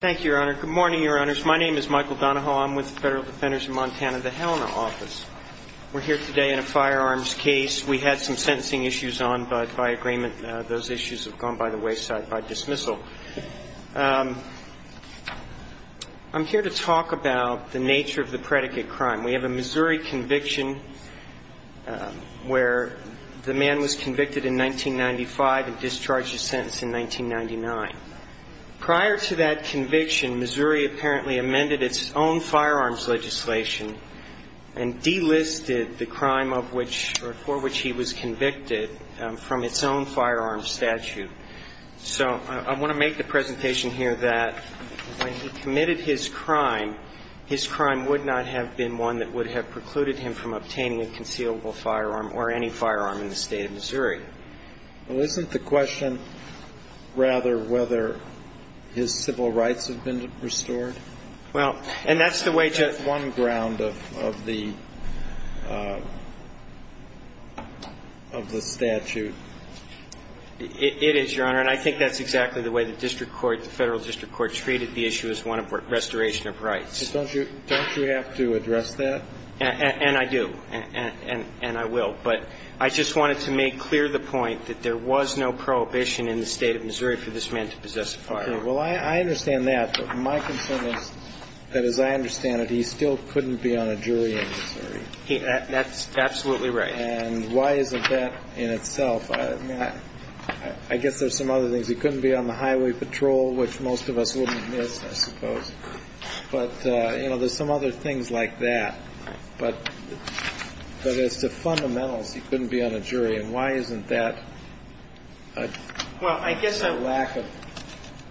Thank you, Your Honor. Good morning, Your Honors. My name is Michael Donahoe. I'm with the Federal Defenders of Montana, the Helena Office. We're here today in a firearms case. We had some sentencing issues on, but by agreement those issues have gone by the wayside by dismissal. I'm here to talk about the nature of the predicate crime. We have a Missouri conviction where the man was convicted in 1995 and discharged his sentence in 1999. Prior to that conviction, Missouri apparently amended its own firearms legislation and delisted the crime of which or for which he was convicted from its own firearms statute. So I want to make the presentation here that when he committed his crime, his crime would not have been one that would have precluded him from obtaining a concealable firearm or any firearm in the State of Missouri. Well, isn't the question rather whether his civil rights have been restored? Well, and that's the way to – That's one ground of the statute. It is, Your Honor, and I think that's exactly the way the district court, the Federal District Court, treated the issue as one of restoration of rights. Don't you have to address that? And I do, and I will, but I just wanted to make clear the point that there was no prohibition in the State of Missouri for this man to possess a firearm. Okay. Well, I understand that, but my concern is that, as I understand it, he still couldn't be on a jury in Missouri. That's absolutely right. And why isn't that in itself? I mean, I guess there's some other things. He couldn't be on the highway patrol, which most of us wouldn't miss, I suppose. But, you know, there's some other things like that. But as to fundamentals, he couldn't be on a jury, and why isn't that a lack of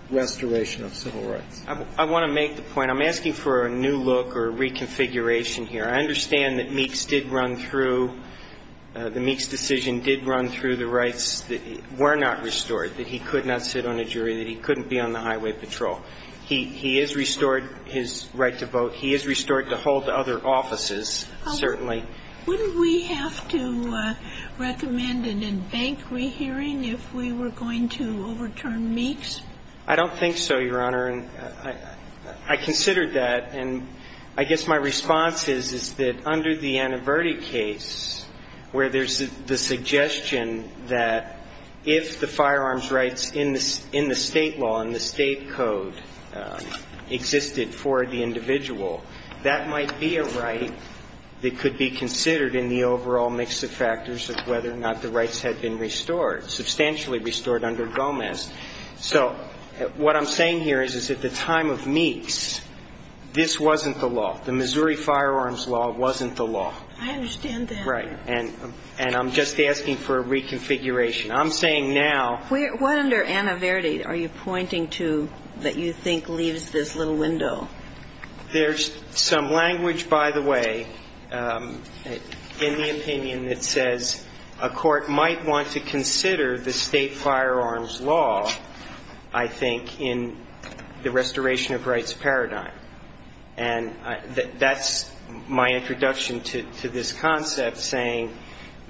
restoration of civil rights? I want to make the point – I'm asking for a new look or a reconfiguration here. I understand that Meeks did run through – the Meeks decision did run through the rights that were not restored, that he could not sit on a jury, that he couldn't be on the highway patrol. He is restored his right to vote. He is restored to hold other offices, certainly. Wouldn't we have to recommend an in-bank rehearing if we were going to overturn Meeks? I don't think so, Your Honor. I considered that, and I guess my response is, is that under the Ann Averti case, where there's the suggestion that if the firearms rights in the State law, in the State code, existed for the individual, that might be a right that could be considered in the overall mix of factors of whether or not the rights had been restored, substantially restored under Gomez. So what I'm saying here is, is at the time of Meeks, this wasn't the law. The Missouri firearms law wasn't the law. I understand that. Right. And I'm just asking for a reconfiguration. I'm saying now – What under Ann Averti are you pointing to that you think leaves this little window? There's some language, by the way, in the opinion that says a court might want to consider the State firearms law, I think, in the restoration of rights paradigm. And that's my introduction to this concept, saying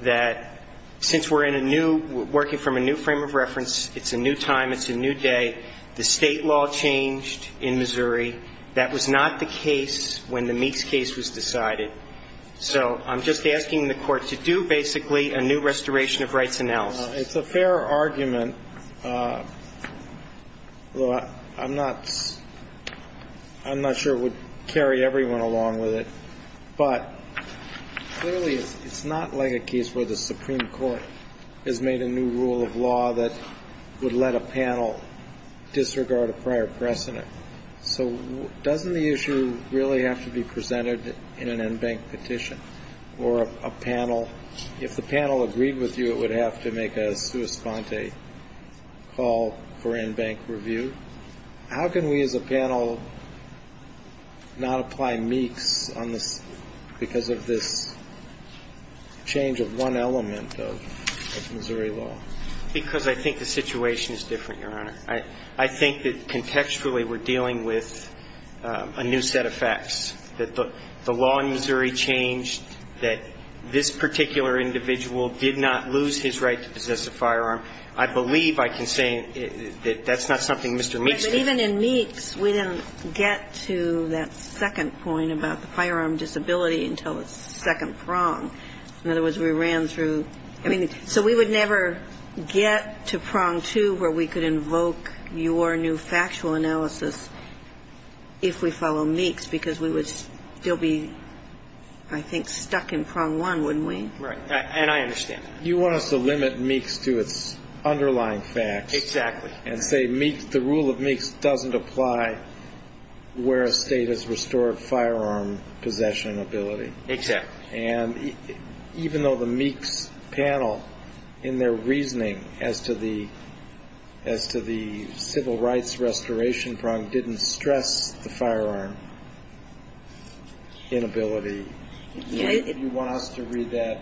that since we're in a new – working from a new frame of reference, it's a new time, it's a new day, the State law changed in Missouri. That was not the case when the Meeks case was decided. So I'm just asking the Court to do, basically, a new restoration of rights analysis. It's a fair argument, though I'm not – I'm not sure it would carry everyone along with it. But clearly, it's not like a case where the Supreme Court has made a new rule of law that would let a panel disregard a prior precedent. So doesn't the issue really have to be presented in an en banc petition or a panel? If the panel agreed with you, it would have to make a sua sponte call for en banc review. How can we, as a panel, not apply Meeks on this – because of this change of one element of Missouri law? Because I think the situation is different, Your Honor. I think that contextually we're dealing with a new set of facts, that the law in Missouri changed, that this particular individual did not lose his right to possess a firearm. I believe I can say that that's not something Mr. Meeks did. But even in Meeks, we didn't get to that second point about the firearm disability until the second prong. In other words, we ran through – I mean, so we would never get to prong two where we could invoke your new factual analysis if we follow Meeks, because we would still be, I think, stuck in prong one, wouldn't we? Right. And I understand that. You want us to limit Meeks to its underlying facts. Exactly. And say the rule of Meeks doesn't apply where a State has restored firearm possession and ability. Exactly. And even though the Meeks panel, in their reasoning as to the civil rights restoration prong, didn't stress the firearm inability, you want us to read that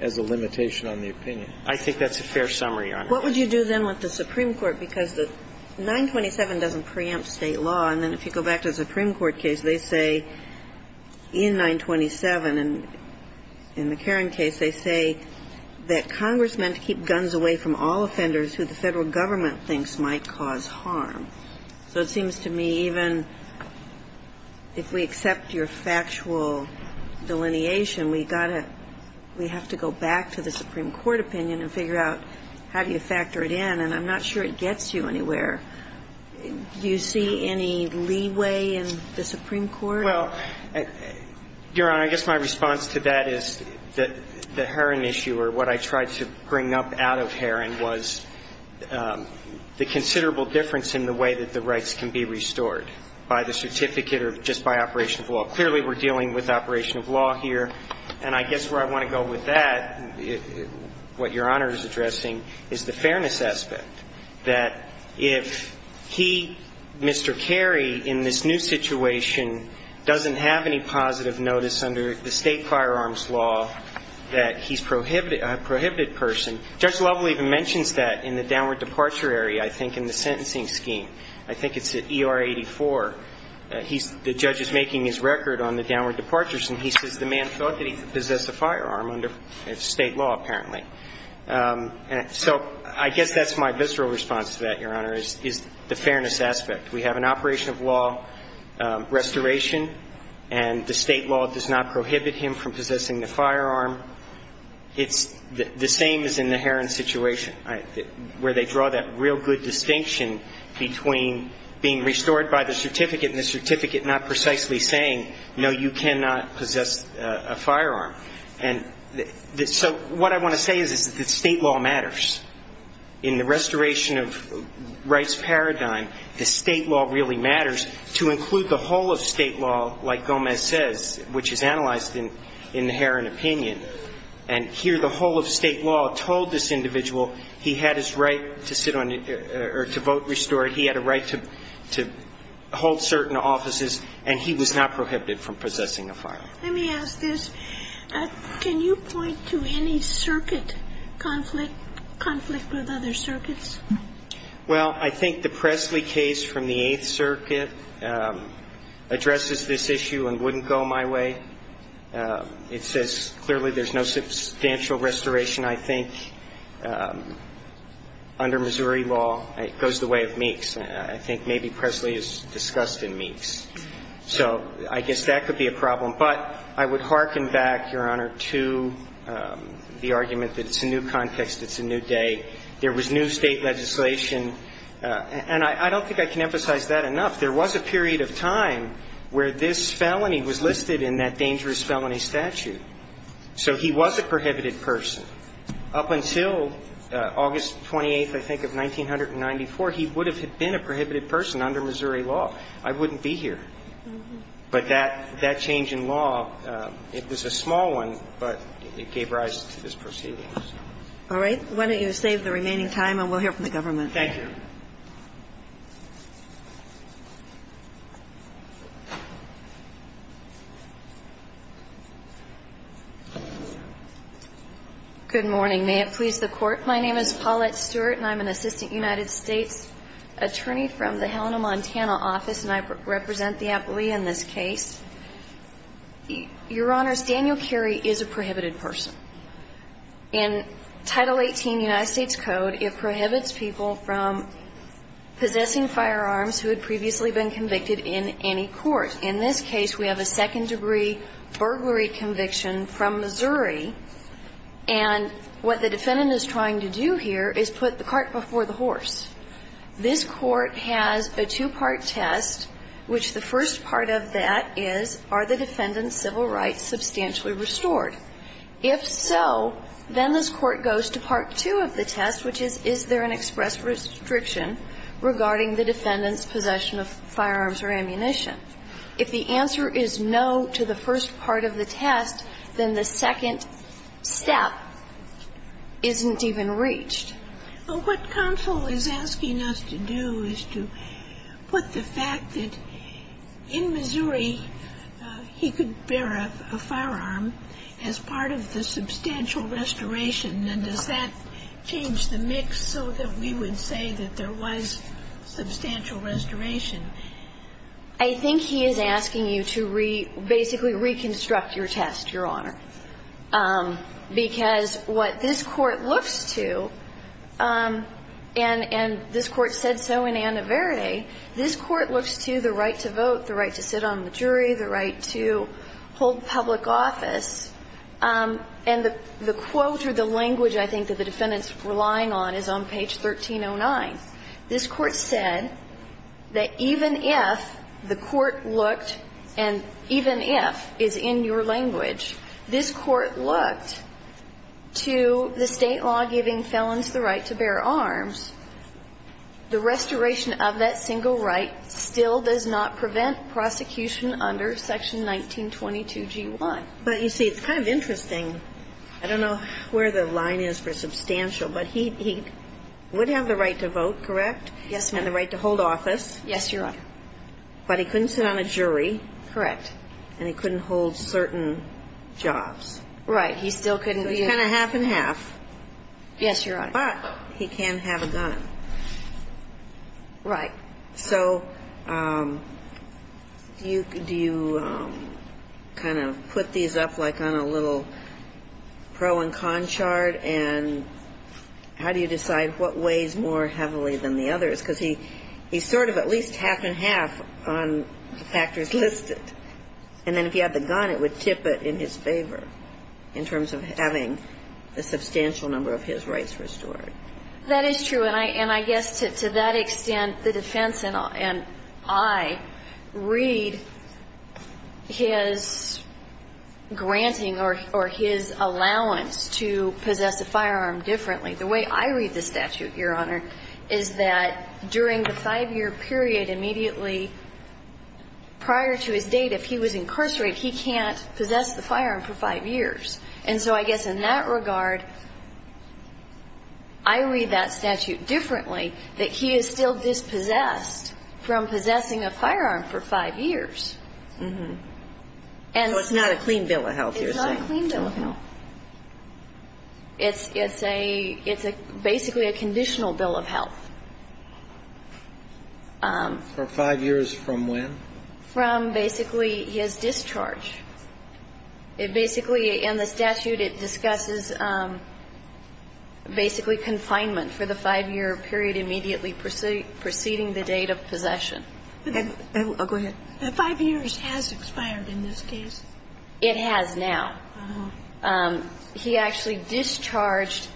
as a limitation on the opinion. I think that's a fair summary, Your Honor. What would you do then with the Supreme Court? Because the 927 doesn't preempt State law. And then if you go back to the Supreme Court case, they say in 927 and in the Caron case, they say that Congress meant to keep guns away from all offenders who the Federal Government thinks might cause harm. So it seems to me even if we accept your factual delineation, we've got to – we have to go back to the Supreme Court opinion and figure out how do you factor it in. And I'm not sure it gets you anywhere. Do you see any leeway in the Supreme Court? Well, Your Honor, I guess my response to that is that the Heron issue or what I tried to bring up out of Heron was the considerable difference in the way that the rights can be restored by the certificate or just by operation of law. And I guess where I want to go with that, what Your Honor is addressing, is the fairness aspect, that if he, Mr. Carey, in this new situation doesn't have any positive notice under the State firearms law, that he's a prohibited person. Judge Lovell even mentions that in the downward departure area, I think, in the sentencing scheme. I think it's at ER 84. The judge is making his record on the downward departures, and he says the man thought that he could possess a firearm under State law, apparently. So I guess that's my visceral response to that, Your Honor, is the fairness aspect. We have an operation of law restoration, and the State law does not prohibit him from possessing the firearm. It's the same as in the Heron situation, where they draw that real good distinction between being restored by the certificate and the certificate not precisely saying, no, you cannot possess a firearm. And so what I want to say is that State law matters. In the restoration of rights paradigm, the State law really matters, to include the whole of State law, like Gomez says, which is analyzed in the Heron opinion. And here the whole of State law told this individual he had his right to sit on or to vote restored. He had a right to hold certain offices, and he was not prohibited from possessing a firearm. Let me ask this. Can you point to any circuit conflict, conflict with other circuits? Well, I think the Presley case from the Eighth Circuit addresses this issue and wouldn't go my way. It says clearly there's no substantial restoration, I think, under Missouri law. It goes the way of Meeks. I think maybe Presley is discussed in Meeks. So I guess that could be a problem. But I would hearken back, Your Honor, to the argument that it's a new context, it's a new day. There was new State legislation. And I don't think I can emphasize that enough. There was a period of time where this felony was listed in that dangerous felony statute. So he was a prohibited person. Up until August 28th, I think, of 1994, he would have been a prohibited person under Missouri law. I wouldn't be here. But that change in law, it was a small one, but it gave rise to this proceeding. All right. Why don't you save the remaining time, and we'll hear from the government. Thank you. Good morning. May it please the Court. My name is Paulette Stewart, and I'm an assistant United States attorney from the Helena, Montana, office, and I represent the appellee in this case. Your Honors, Daniel Carey is a prohibited person. In Title 18 United States Code, it prohibits people from being a prohibited person. person, possessing firearms, who had previously been convicted in any court. In this case, we have a second-degree burglary conviction from Missouri. And what the defendant is trying to do here is put the cart before the horse. This Court has a two-part test, which the first part of that is, are the defendant's possession of firearms or ammunition? If the answer is no to the first part of the test, then the second step isn't even reached. But what counsel is asking us to do is to put the fact that in Missouri, he could bear a firearm as part of the substantial restoration. And does that change the mix so that we would say that there was substantial restoration? I think he is asking you to basically reconstruct your test, Your Honor. Because what this Court looks to, and this Court said so in Anna Verde, this Court looks to the right to vote, the right to sit on the jury, the right to hold public And the quote or the language I think that the defendant is relying on is on page 1309. This Court said that even if the court looked and even if is in your language, this Court looked to the State law giving felons the right to bear arms, the restoration of that single right still does not prevent prosecution under Section 1922g1. But you see, it's kind of interesting. I don't know where the line is for substantial. But he would have the right to vote, correct? Yes, ma'am. And the right to hold office. Yes, Your Honor. But he couldn't sit on a jury. Correct. And he couldn't hold certain jobs. Right. He still couldn't be a ---- So he's kind of half and half. Yes, Your Honor. But he can have a gun. Right. So do you kind of put these up like on a little pro and con chart? And how do you decide what weighs more heavily than the others? Because he's sort of at least half and half on the factors listed. And then if he had the gun, it would tip it in his favor in terms of having a substantial number of his rights restored. That is true. And I guess to that extent, the defense and I read his granting or his allowance to possess a firearm differently. The way I read the statute, Your Honor, is that during the five-year period immediately prior to his date, if he was incarcerated, he can't possess the firearm for five years. And so I guess in that regard, I read that statute differently, that he is still dispossessed from possessing a firearm for five years. So it's not a clean bill of health, you're saying. It's not a clean bill of health. It's basically a conditional bill of health. For five years from when? From basically his discharge. It basically, in the statute, it discusses basically confinement for the five-year period immediately preceding the date of possession. Go ahead. Five years has expired in this case. It has now. He actually discharged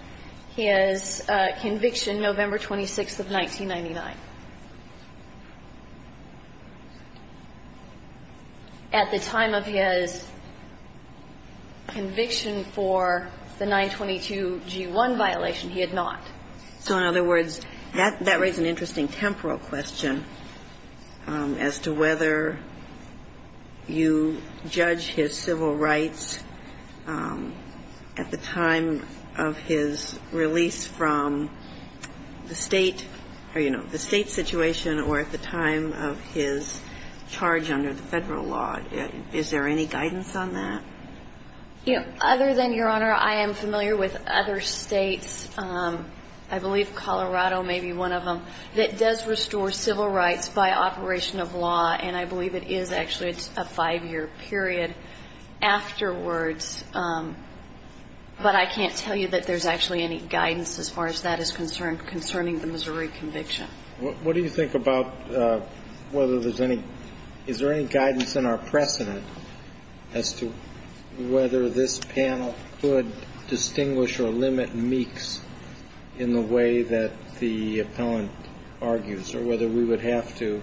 his conviction November 26th of 1999. At the time of his conviction for the 922-G1 violation, he had not. So in other words, that raises an interesting temporal question as to whether you judge his civil rights at the time of his release from the State or, you know, the State situation or at the time of his charge under the Federal law. Is there any guidance on that? Yeah. Other than, Your Honor, I am familiar with other States. I believe Colorado may be one of them that does restore civil rights by operation of law, and I believe it is actually a five-year period afterwards. But I can't tell you that there's actually any guidance as far as that is concerned concerning the Missouri conviction. What do you think about whether there's any ñ is there any guidance in our precedent as to whether this panel could distinguish or limit Meeks in the way that the appellant argues, or whether we would have to,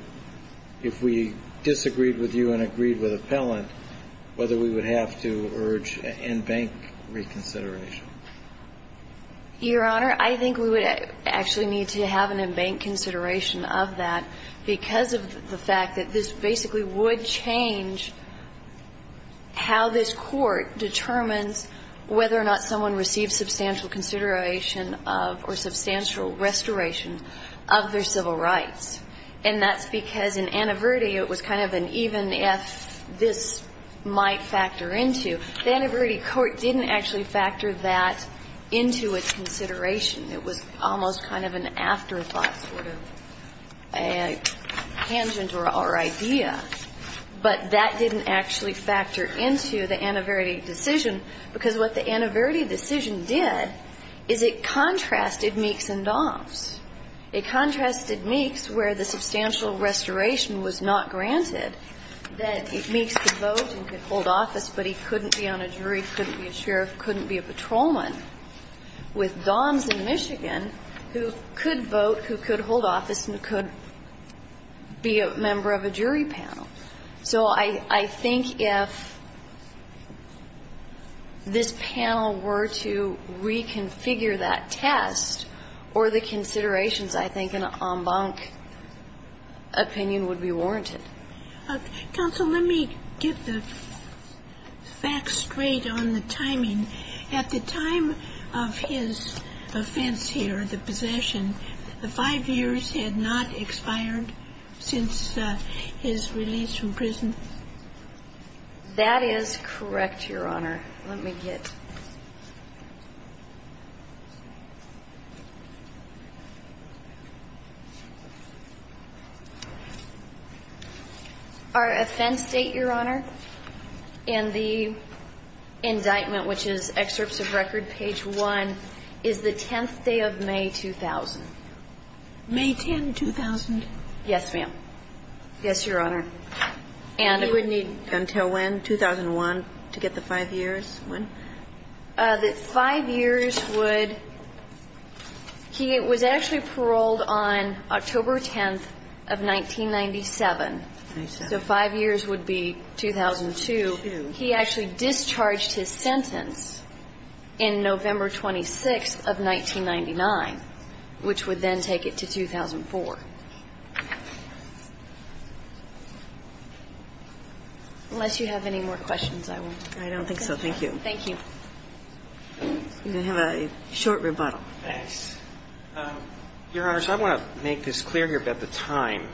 if we disagreed with you and agreed with appellant, whether we would have to urge and bank reconsideration? Your Honor, I think we would actually need to have an in-bank consideration of that because of the fact that this basically would change how this Court determines whether or not someone receives substantial consideration of or substantial restoration of their civil rights. And that's because in Annaverdi it was kind of an even if this might factor into. The Annaverdi court didn't actually factor that into its consideration. It was almost kind of an afterthought, sort of, a tangent to our idea. But that didn't actually factor into the Annaverdi decision, because what the Annaverdi decision did is it contrasted Meeks and Dobbs. It contrasted Meeks where the substantial restoration was not granted, that Meeks could vote and could hold office, but he couldn't be on a jury, couldn't be a sheriff, couldn't be a patrolman, with Dobbs in Michigan who could vote, who could hold office and who could be a member of a jury panel. So I think if this panel were to reconfigure that test or the considerations, I think an en banc opinion would be warranted. Counsel, let me get the facts straight on the timing. At the time of his offense here, the possession, the five years had not expired since his release from prison? That is correct, Your Honor. Let me get the facts straight. Our offense date, Your Honor, in the indictment, which is excerpts of record page 1, is the 10th day of May 2000. May 10, 2000? Yes, ma'am. Yes, Your Honor. And it would need until when? 2001 to get the five years? When? That five years would he was actually paroled on October 10th of 1997. So five years would be 2002. He actually discharged his sentence in November 26th of 1999, which would then take it to 2004. Unless you have any more questions, I will. I don't think so. Thank you. Thank you. You're going to have a short rebuttal. Thanks. Your Honors, I want to make this clear here about the time.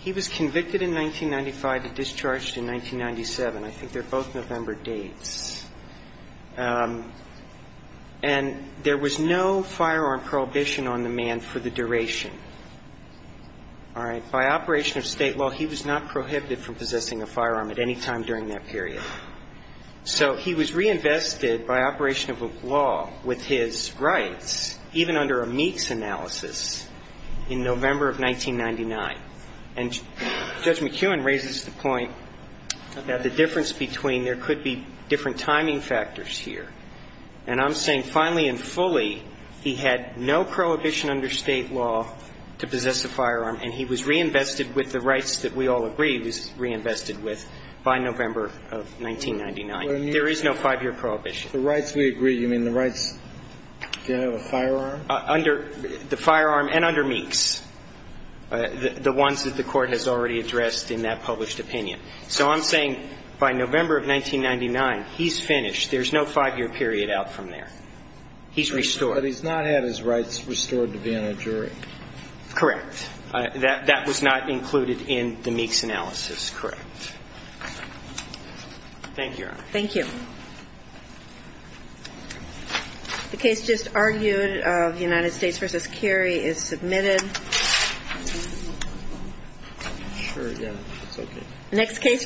He was convicted in 1995 and discharged in 1997. I think they're both November dates. And there was no firearm prohibition on the man for the duration. All right? By operation of State law, he was not prohibited from possessing a firearm at any time during that period. So he was reinvested by operation of law with his rights, even under a Meeks analysis, in November of 1999. And Judge McEwen raises the point that the difference between there could be different timing factors here. And I'm saying finally and fully, he had no prohibition under State law to possess a firearm, and he was reinvested with the rights that we all agree he was reinvested with by November of 1999. There is no five-year prohibition. The rights we agree. You mean the rights to have a firearm? Under the firearm and under Meeks, the ones that the Court has already addressed in that published opinion. So I'm saying by November of 1999, he's finished. There's no five-year period out from there. He's restored. But he's not had his rights restored to be on a jury. Correct. That was not included in the Meeks analysis. That is correct. Thank you, Your Honor. Thank you. The case just argued of United States v. Cary is submitted.